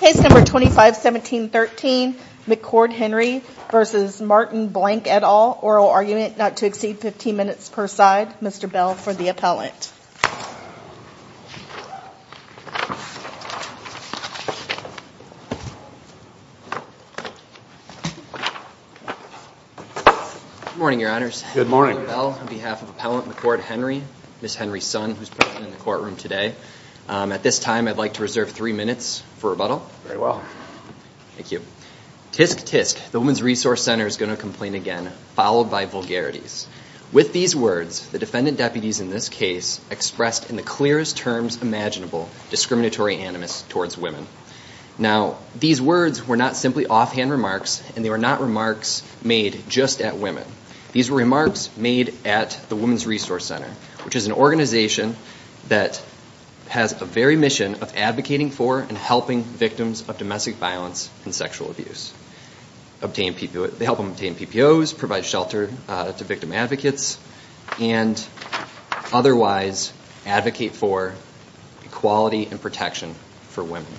Case number 251713, McCord Henry v. Martin Blank et al., oral argument, not to exceed 15 minutes per side. Mr. Bell for the appellant. Morning, your honors. Good morning. On behalf of Appellant McCord Henry, Ms. Henry's son, who's present in the courtroom today, at this time I'd like to reserve three minutes for rebuttal. Very well. Thank you. Tsk, tsk, the Women's Resource Center is going to complain again, followed by vulgarities. With these words, the defendant deputies in this case expressed in the clearest terms imaginable discriminatory animus towards women. Now, these words were not simply offhand remarks, and they were not remarks made just at women. These were remarks made at the Women's Resource Center, which is an organization that has a very mission of advocating for and helping victims of domestic violence and sexual abuse. They help them obtain PPOs, provide shelter to victim advocates, and otherwise advocate for equality and protection for women.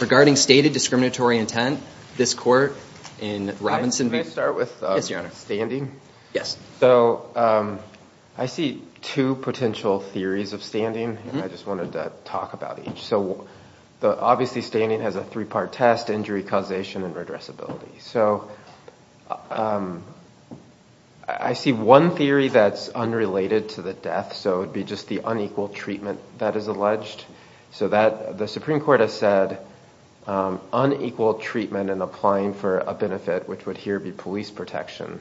Regarding stated discriminatory intent, this court in Robinson v. Can I start with standing? Yes. So I see two potential theories of standing, and I just wanted to talk about each. Obviously, standing has a three-part test, injury causation, and redressability. So I see one theory that's unrelated to the death, so it would be just the unequal treatment that is alleged. So the Supreme Court has said unequal treatment and applying for a benefit, which would here be police protection,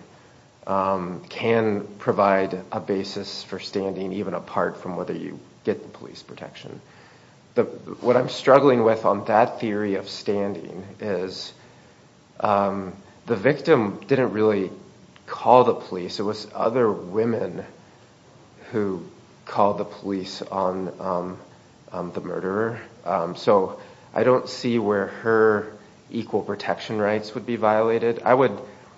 can provide a basis for standing, even apart from whether you get the police protection. What I'm struggling with on that theory of standing is the victim didn't really call the police. It was other women who called the police on the murderer. So I don't see where her equal protection rights would be violated. I would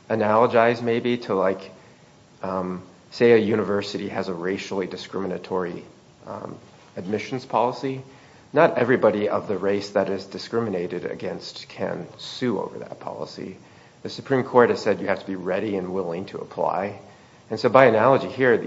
analogize, maybe, to say a university has a racially discriminatory admissions policy. Not everybody of the race that is discriminated against can sue over that policy. The Supreme Court has said you have to be ready and willing to apply. And so by analogy here,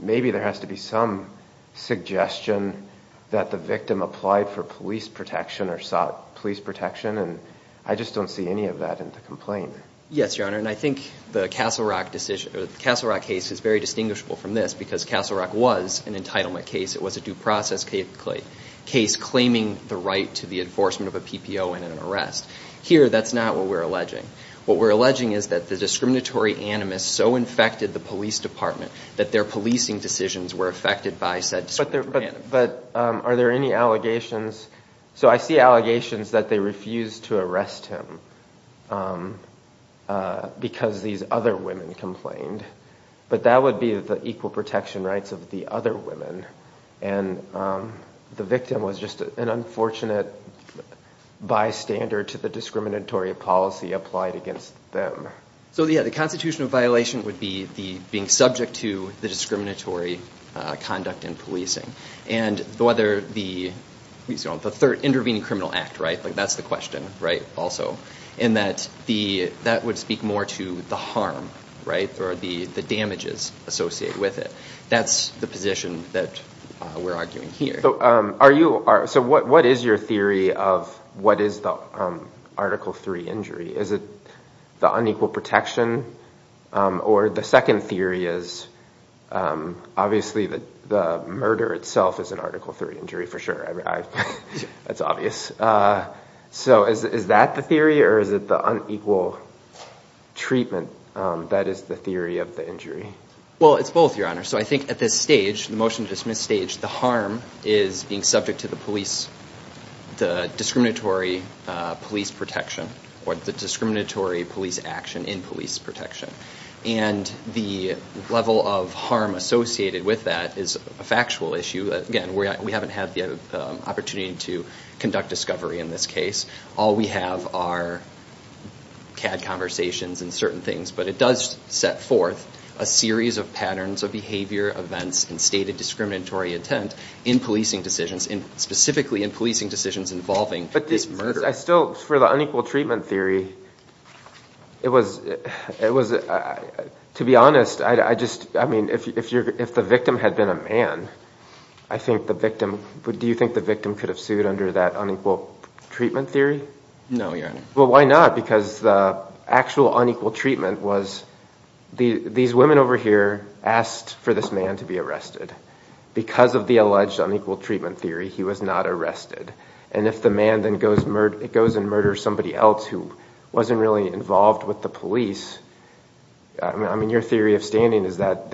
maybe there has to be some suggestion that the victim applied for police protection or sought police protection. And I just don't see any of that in the complaint. Yes, Your Honor. And I think the Castle Rock case is very distinguishable from this because Castle Rock was an entitlement case. It was a due process case claiming the right to the enforcement of a PPO and an arrest. Here, that's not what we're alleging. What we're alleging is that the discriminatory animus so infected the police department that their policing decisions were affected by said discriminatory animus. But are there any allegations? So I see allegations that they refused to arrest him because these other women complained. But that would be the equal protection rights of the other women. And the victim was just an unfortunate bystander to the discriminatory policy applied against them. So yeah, the constitutional violation would be being subject to the discriminatory conduct in policing. And the third intervening criminal act, that's the question also. And that would speak more to the harm or the damages associated with it. That's the position that we're arguing here. So what is your theory of what is the Article III injury? Is it the unequal protection? Or the second theory is obviously that the murder itself is an Article III injury, for sure. That's obvious. So is that the theory? Or is it the unequal treatment that is the theory of the injury? Well, it's both, Your Honor. So I think at this stage, the motion to dismiss stage, the harm is being subject to the police, the discriminatory police protection or the discriminatory police action in police protection. And the level of harm associated with that is a factual issue. Again, we haven't had the opportunity to conduct discovery in this case. All we have are CAD conversations and certain things. But it does set forth a series of patterns of behavior, events, and stated discriminatory intent in policing decisions, specifically in policing decisions involving this murder. But I still, for the unequal treatment theory, it was, to be honest, I just, I mean, if the victim had been a man, I think the victim, do you think the victim could have sued under that unequal treatment theory? No, Your Honor. Well, why not? Because the actual unequal treatment was, these women over here asked for this man to be arrested. Because of the alleged unequal treatment theory, he was not arrested. And if the man then goes and murders somebody else who wasn't really involved with the police, I mean, your theory of standing is that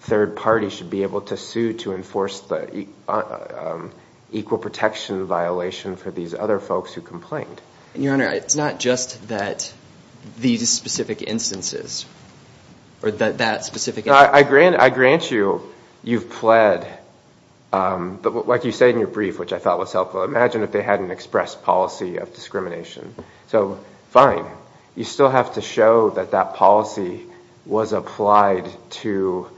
third party should be able to sue to enforce the equal protection violation for these other folks who complained. Your Honor, it's not just that these specific instances or that specific instance. I grant you, you've pled. But like you say in your brief, which I thought was helpful, imagine if they hadn't expressed policy of discrimination. So fine. You still have to show that that policy was applied to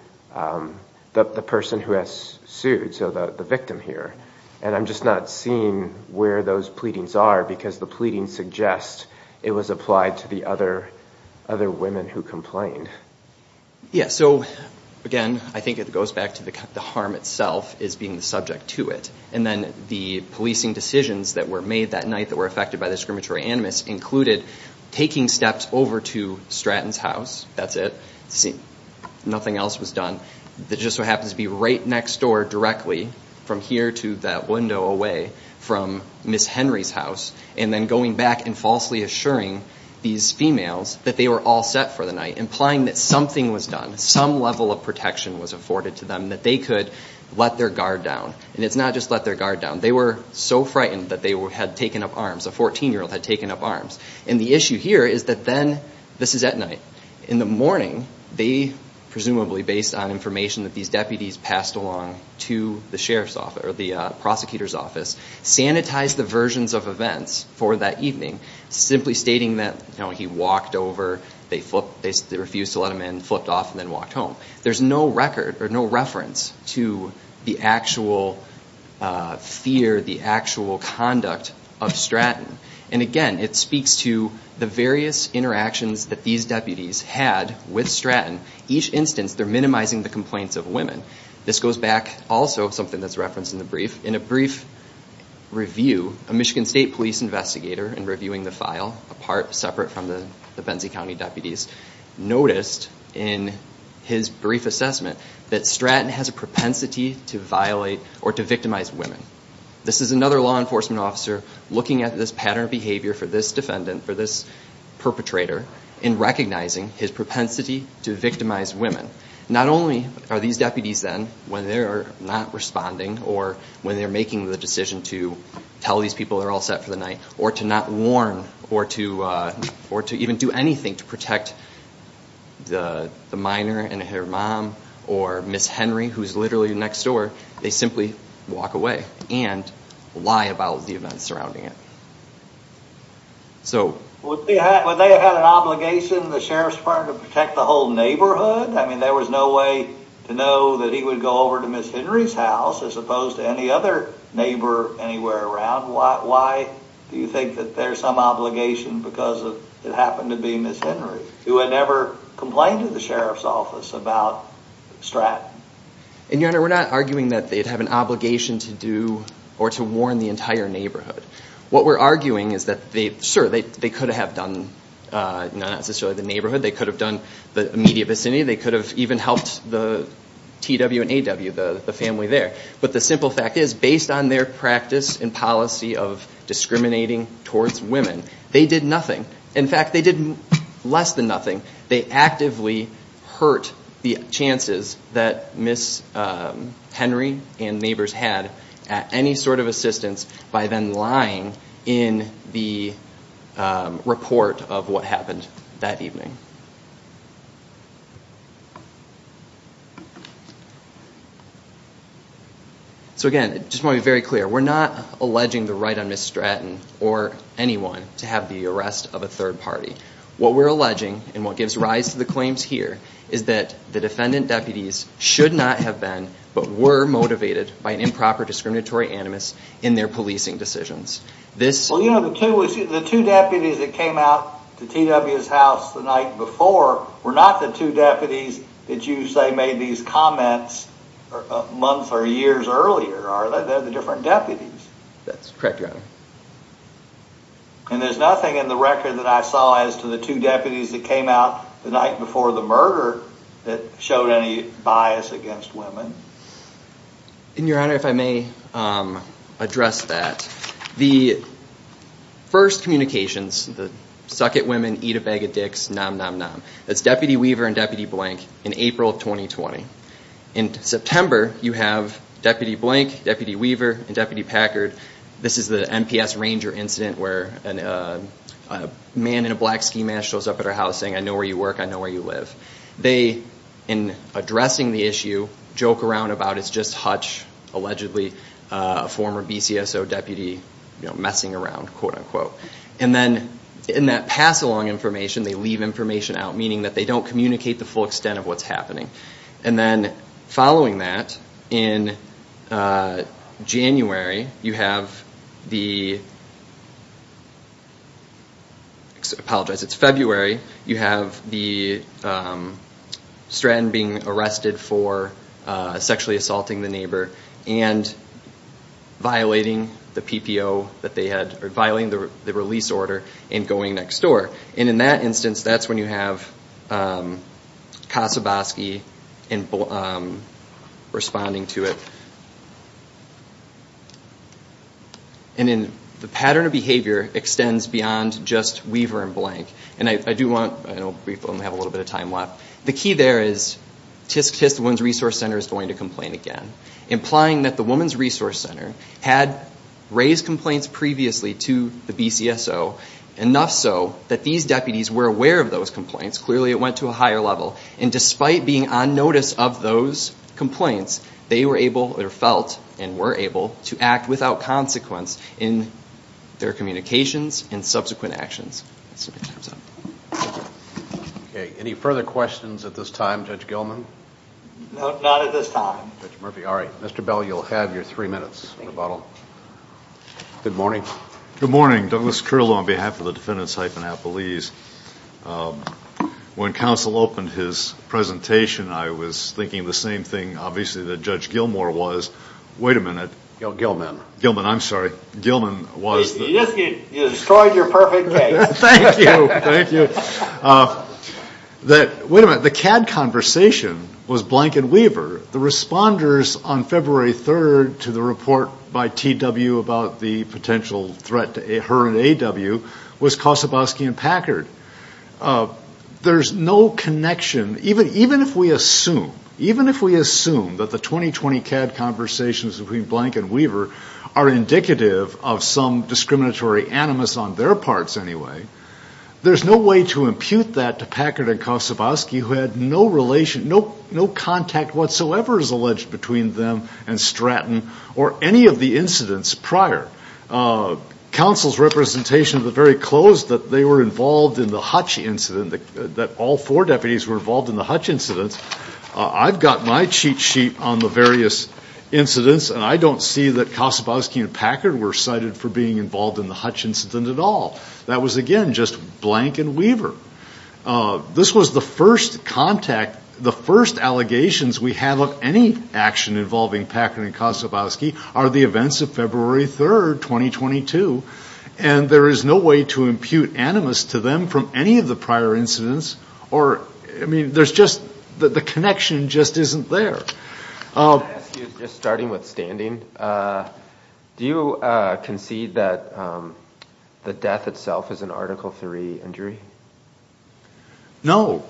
the person who has sued, so the victim here. And I'm just not seeing where those pleadings are, because the pleadings suggest it was applied to the other women who complained. Yeah, so again, I think it goes back to the harm itself as being the subject to it. And then the policing decisions that were made that night that were affected by the discriminatory animus included taking steps over to Stratton's house. That's it. Nothing else was done. That just so happens to be right next door directly, from here to that window away, from Ms. Henry's house. And then going back and falsely assuring these females that they were all set for the night, implying that something was done, some level of protection was afforded to them, that they could let their guard down. And it's not just let their guard down. They were so frightened that they had taken up arms. A 14-year-old had taken up arms. And the issue here is that then, this is at night. In the morning, they, presumably based on information that these deputies passed along to the prosecutor's office, sanitized the versions of events for that evening, simply stating that he walked over, they refused to let him in, flipped off, and then walked home. There's no record or no reference to the actual fear, the actual conduct of Stratton. And again, it speaks to the various interactions that these deputies had with Stratton. Each instance, they're minimizing the complaints of women. This goes back, also, something that's referenced in the brief. In a brief review, a Michigan State police investigator in reviewing the file, a part separate from the Benzie County deputies, noticed in his brief assessment that Stratton has a propensity to violate or to victimize women. This is another law enforcement officer looking at this pattern of behavior for this defendant, for this perpetrator, in recognizing his propensity to victimize women. Not only are these deputies then, when they're not responding, or when they're making the decision to tell these people they're all set for the night, or to not warn, or to even do anything to protect the minor and her mom, or Ms. Henry, who's literally next door, they simply walk away and lie about the events surrounding it. So would they have had an obligation, the sheriff's department, to protect the whole neighborhood? I mean, there was no way to know that he would go over to Ms. Henry's house, as opposed to any other neighbor anywhere around. Why do you think that there's some obligation because it happened to be Ms. Henry? Who had never complained to the sheriff's office about Stratton. And your honor, we're not arguing that they'd have an obligation to do or to warn the entire neighborhood. What we're arguing is that, sure, they could have done not necessarily the neighborhood. They could have done the immediate vicinity. They could have even helped the TW and AW, the family there. But the simple fact is, based on their practice and policy of discriminating towards women, they did nothing. In fact, they did less than nothing. They actively hurt the chances that Ms. Henry and neighbors had at any sort of assistance by then lying in the report of what happened that evening. So again, I just want to be very clear. We're not alleging the right on Ms. Stratton or anyone to have the arrest of a third party. What we're alleging, and what gives rise to the claims here, is that the defendant deputies should not have been, but were motivated by an improper discriminatory animus in their policing decisions. Well, you know, the two deputies that came out to TW's house the night before were not the two deputies that you say made these comments a month or years earlier, are they? They're the different deputies. That's correct, your honor. And there's nothing in the record that I saw as to the two deputies that came out the night before the murder that showed any bias against women. And your honor, if I may address that. The first communications, the suck it women, eat a bag of dicks, nom nom nom, that's Deputy Weaver and Deputy Blank in April of 2020. In September, you have Deputy Blank, Deputy Weaver, and Deputy Packard. This is the NPS Ranger incident, where a man in a black ski mask shows up at our house saying, I know where you work, I know where you live. They, in addressing the issue, joke around about it's just Hutch, allegedly a former BCSO deputy messing around, quote unquote. And then in that pass along information, they leave information out, meaning that they don't communicate the full extent of what's happening. And then following that, in January, you have the, apologize, it's February, you have the Stratton being arrested for sexually assaulting the neighbor and violating the PPO that they had, or violating the release order, and going next door. And in that instance, that's when you have Kasaboski responding to it. And then the pattern of behavior extends beyond just Weaver and Blank. And I do want, I know we only have a little bit of time left. The key there is, TISC, the Women's Resource Center, is going to complain again, implying that the Women's Resource Center had raised complaints previously to the BCSO, enough so that these deputies were aware of those complaints. Clearly, it went to a higher level. And despite being on notice of those complaints, they were able, or felt, and were able to act without consequence in their communications and subsequent actions. Any further questions at this time, Judge Gilman? Not at this time. Judge Murphy, all right. Mr. Bell, you'll have your three minutes rebuttal. Good morning. Good morning. Douglas Curlow on behalf of the Defendants Hyphenapolis. When counsel opened his presentation, I was thinking the same thing, obviously, that Judge Gilmore was. Wait a minute. Gilman. Gilman, I'm sorry. Gilman was the- You just destroyed your perfect case. Thank you, thank you. Wait a minute, the CAD conversation was Blank and Weaver. The responders on February 3rd to the report by TW about the potential threat to her and AW was Kosoboski and Packard. There's no connection, even if we assume, even if we assume that the 2020 CAD conversations between Blank and Weaver are indicative of some discriminatory animus on their parts anyway, there's no way to impute that to Packard and Kosoboski, who no contact whatsoever is alleged between them and Stratton or any of the incidents prior. Counsel's representation at the very close that they were involved in the Hutch incident, that all four deputies were involved in the Hutch incident, I've got my cheat sheet on the various incidents, and I don't see that Kosoboski and Packard were cited for being involved in the Hutch incident at all. That was, again, just Blank and Weaver. This was the first contact, the first allegations we have of any action involving Packard and Kosoboski are the events of February 3rd, 2022. And there is no way to impute animus to them from any of the prior incidents or, I mean, there's just, the connection just isn't there. I want to ask you, just starting with standing, do you concede that the death itself is an Article III injury? No.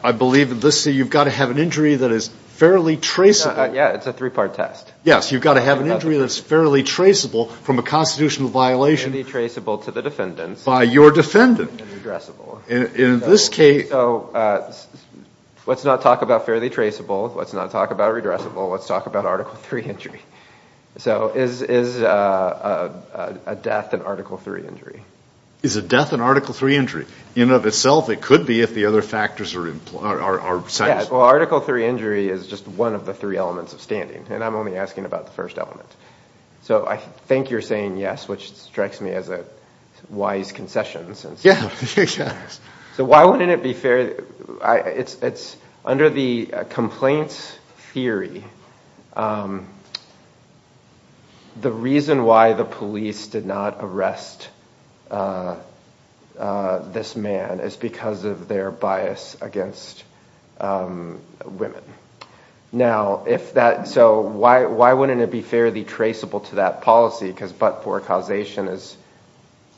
I believe that this, you've got to have an injury that is fairly traceable. Yeah, it's a three-part test. Yes, you've got to have an injury that's fairly traceable from a constitutional violation. Fairly traceable to the defendants. By your defendant. And redressable. In this case. So let's not talk about fairly traceable. Let's not talk about redressable. Let's talk about Article III injury. So is a death an Article III injury? Is a death an Article III injury? In and of itself, it could be if the other factors are implied, are cited. Well, Article III injury is just one of the three elements of standing. And I'm only asking about the first element. So I think you're saying yes, which strikes me as a wise concession. So why wouldn't it be fair? It's under the complaints theory, the reason why the police did not arrest this man is because of their bias against women. Now, so why wouldn't it be fairly traceable to that policy? Because but-for causation is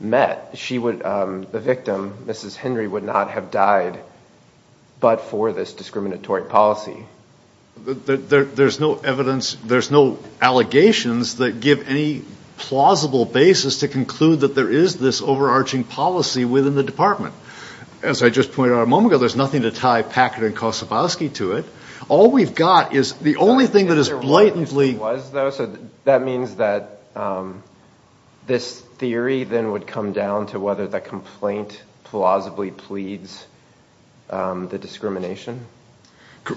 met. The victim, Mrs. Henry, would not have died but-for this discriminatory policy. There's no evidence. There's no allegations that give any plausible basis to conclude that there is this overarching policy within the department. As I just pointed out a moment ago, there's nothing to tie Packard and Kossobowski to it. All we've got is the only thing that is blatantly. There was, though. So that means that this theory then would come down to whether the complaint plausibly pleads the discrimination?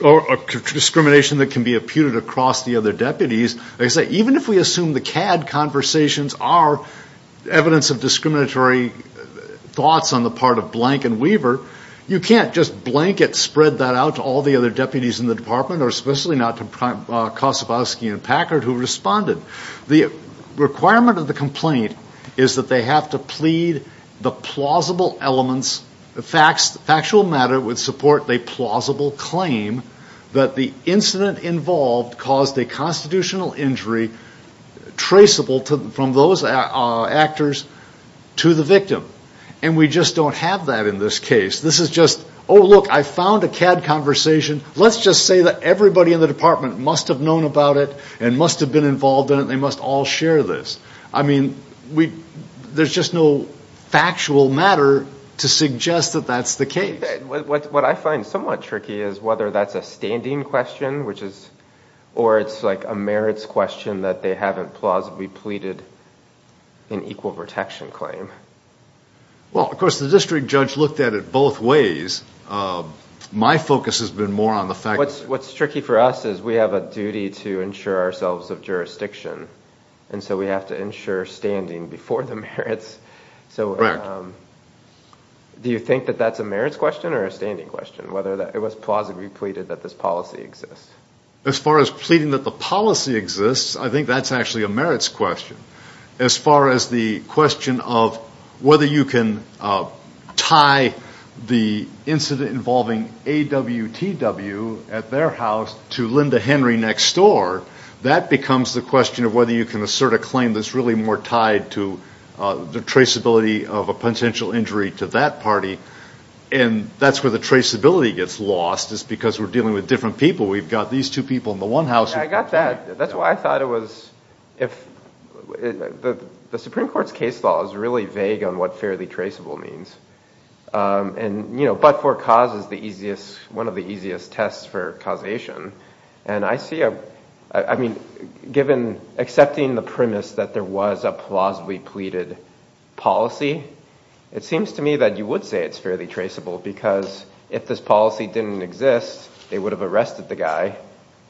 Or discrimination that can be imputed across the other deputies. Like I say, even if we assume the CAD conversations are evidence of discriminatory thoughts on the part of Blank and Weaver, you can't just blanket spread that out to all the other deputies in the department, or especially not to Kossobowski and Packard, who responded. The requirement of the complaint is that they have to plead the plausible elements. Factual matter would support a plausible claim that the incident involved caused a constitutional injury traceable from those actors to the victim. And we just don't have that in this case. This is just, oh, look, I found a CAD conversation. Let's just say that everybody in the department must have known about it and must have been involved in it. They must all share this. I mean, there's just no factual matter to suggest that that's the case. What I find somewhat tricky is whether that's a standing question, or it's like a merits question that they haven't plausibly pleaded an equal protection claim. Well, of course, the district judge looked at it both ways. My focus has been more on the fact that. What's tricky for us is we have a duty to ensure ourselves of jurisdiction. And so we have to ensure standing before the merits. So do you think that that's a merits question or a standing question, whether it was plausibly pleaded that this policy exists? As far as pleading that the policy exists, I think that's actually a merits question. As far as the question of whether you can tie the incident involving AWTW at their house to Linda Henry next door, that becomes the question of whether you can assert a claim that's really more tied to the traceability of a potential injury to that party. And that's where the traceability gets lost, is because we're dealing with different people. We've got these two people in the one house. I got that. That's why I thought it was if the Supreme Court's case law is really vague on what fairly traceable means. But-for-cause is one of the easiest tests for causation. And I see a, I mean, given accepting the premise that there was a plausibly pleaded policy, it seems to me that you would say it's fairly traceable. Because if this policy didn't exist, they would have arrested the guy.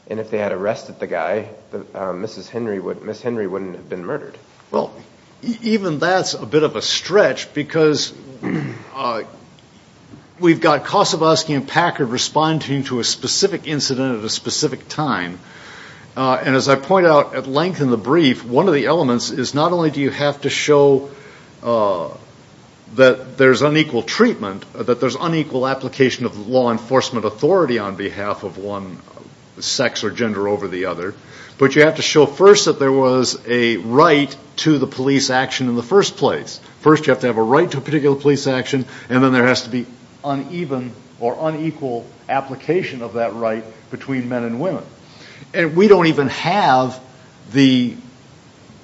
And if they had arrested the guy, Mrs. Henry wouldn't have been murdered. Well, even that's a bit of a stretch, because we've got Kosovowski and Packard responding to a specific incident at a specific time. And as I point out at length in the brief, one of the elements is not only do you have to show that there's unequal treatment, that there's unequal application of law enforcement authority on behalf of one sex or gender over the other, but you have to show first that there was a right to the police action in the first place. First, you have to have a right to a particular police action, and then there has to be uneven or unequal application of that right between men and women. And we don't even have the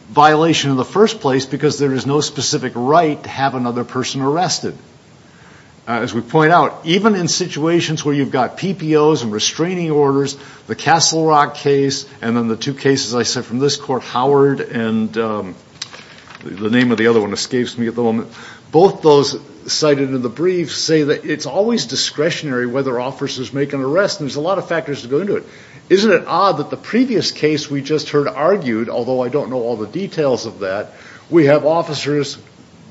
violation in the first place, because there is no specific right to have another person arrested. As we point out, even in situations where you've got PPOs and restraining orders, the Castle Rock case and then the two cases I said from this court, Howard and the name of the other one escapes me at the moment, both those cited in the brief say that it's always discretionary whether officers make an arrest. And there's a lot of factors to go into it. Isn't it odd that the previous case we just heard argued, although I don't know all the details of that, we have officers,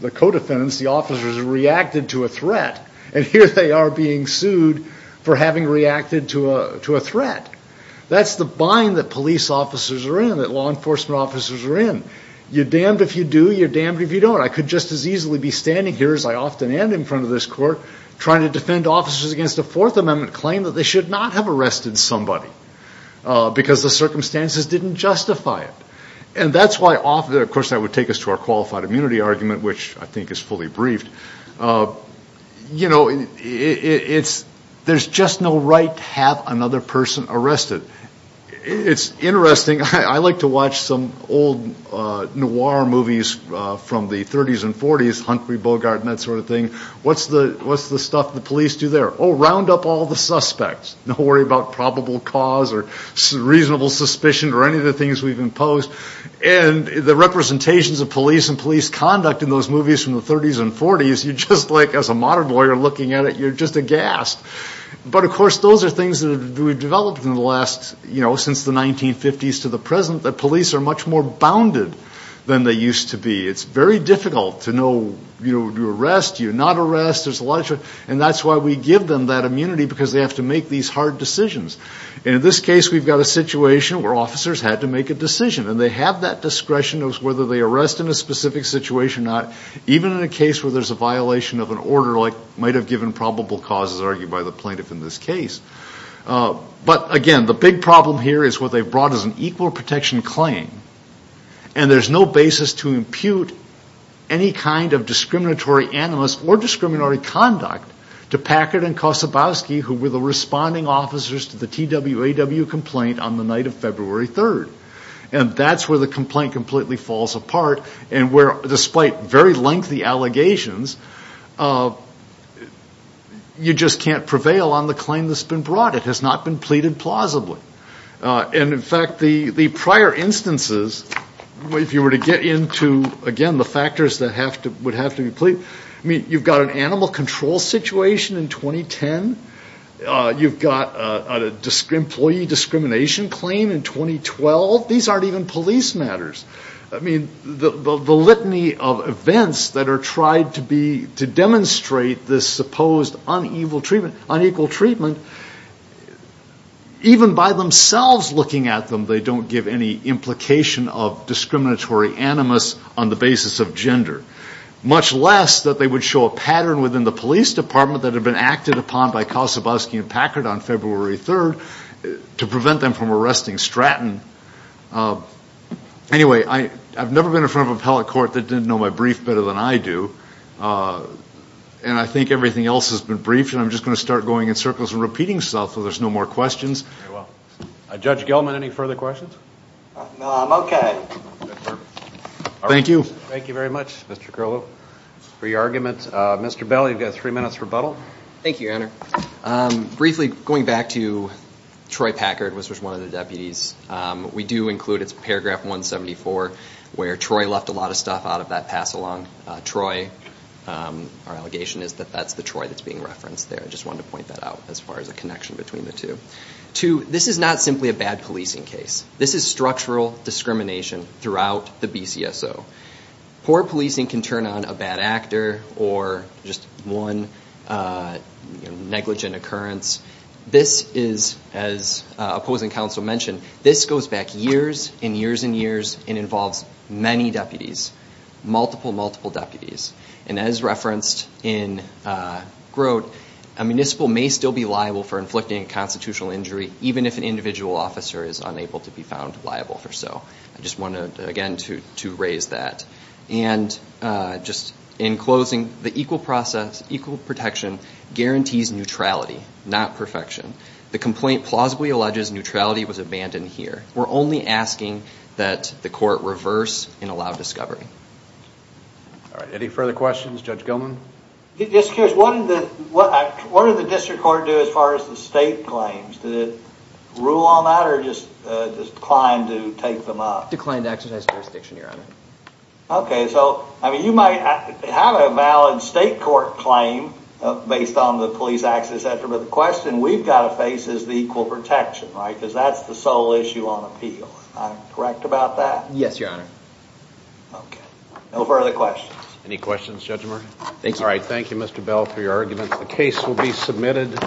the co-defendants, the officers, reacted to a threat, and here they are being sued for having reacted to a threat. That's the bind that police officers are in, that law enforcement officers are in. You're damned if you do, you're damned if you don't. I could just as easily be standing here as I often am in front of this court trying to defend officers against a Fourth Amendment claim that they should not have arrested somebody, because the circumstances didn't justify it. And that's why, of course, that would take us to our qualified immunity argument, which I think is fully briefed. You know, there's just no right to have another person arrested. It's interesting, I like to watch some old noir movies from the 30s and 40s, Huntley, Bogart, and that sort of thing. What's the stuff the police do there? Oh, round up all the suspects. Don't worry about probable cause or reasonable suspicion or any of the things we've imposed. And the representations of police and police conduct in those movies from the 30s and 40s, as a modern lawyer looking at it, you're just aghast. But of course, those are things that we've developed since the 1950s to the present, that police are much more bounded than they used to be. It's very difficult to know, you're arrested, you're not arrested. And that's why we give them that immunity, because they have to make these hard decisions. And in this case, we've got a situation where officers had to make a decision. And they have that discretion of whether they arrest in a specific situation or not, even in a case where there's a violation of an order, like might have given probable causes, argued by the plaintiff in this case. But again, the big problem here is what they've brought as an equal protection claim. And there's no basis to impute any kind of discriminatory animus or discriminatory conduct to Packard and Kosobowski, who were the responding officers to the TWAW complaint on the night of February 3rd. And that's where the complaint completely falls apart. And where, despite very lengthy allegations, you just can't prevail on the claim that's been brought. It has not been pleaded plausibly. And in fact, the prior instances, if you were to get into, again, the factors that would have to be pleaded, I mean, you've got an animal control situation in 2010. You've got an employee discrimination claim in 2012. These aren't even police matters. I mean, the litany of events that are tried to be, to demonstrate this supposed unequal treatment, even by themselves looking at them, they don't give any implication of discriminatory animus on the basis of gender. Much less that they would show a pattern within the police department that had been acted upon by Kosobowski and Packard on February 3rd, to prevent them from arresting Stratton. Anyway, I've never been in front of an appellate court that didn't know my brief better than I do. And I think everything else has been briefed. And I'm just going to start going in circles and repeating stuff so there's no more questions. Judge Gelman, any further questions? No, I'm OK. Thank you. Thank you very much, Mr. Curlow, for your argument. Mr. Bell, you've got three minutes rebuttal. Thank you, Your Honor. Briefly, going back to Troy Packard, which was one of the deputies, we do include, it's paragraph 174, where Troy left a lot of stuff out of that pass-along. Troy, our allegation is that that's the Troy that's being referenced there. I just wanted to point that out as far as a connection between the two. Two, this is not simply a bad policing case. This is structural discrimination throughout the BCSO. Poor policing can turn on a bad actor or just one negligent occurrence. This is, as opposing counsel mentioned, this goes back years and years and years and involves many deputies, multiple, multiple deputies. And as referenced in Grote, a municipal may still be liable for inflicting a constitutional injury, even if an individual officer is unable to be found liable for so. I just wanted, again, to raise that. And just in closing, the equal process, equal protection guarantees neutrality, not perfection. The complaint plausibly alleges neutrality was abandoned here. We're only asking that the court reverse and allow discovery. All right, any further questions? Judge Gilman? Just curious, what did the district court do as far as the state claims? Did it rule on that or just declined to take them up? Declined to exercise jurisdiction, Your Honor. Okay, so you might have a valid state court claim based on the police access, et cetera. But the question we've gotta face is the equal protection, right? Because that's the sole issue on appeal. Am I correct about that? Yes, Your Honor. Okay, no further questions. Any questions, Judge Morgan? Thank you. All right, thank you, Mr. Bell, for your arguments. The case will be submitted.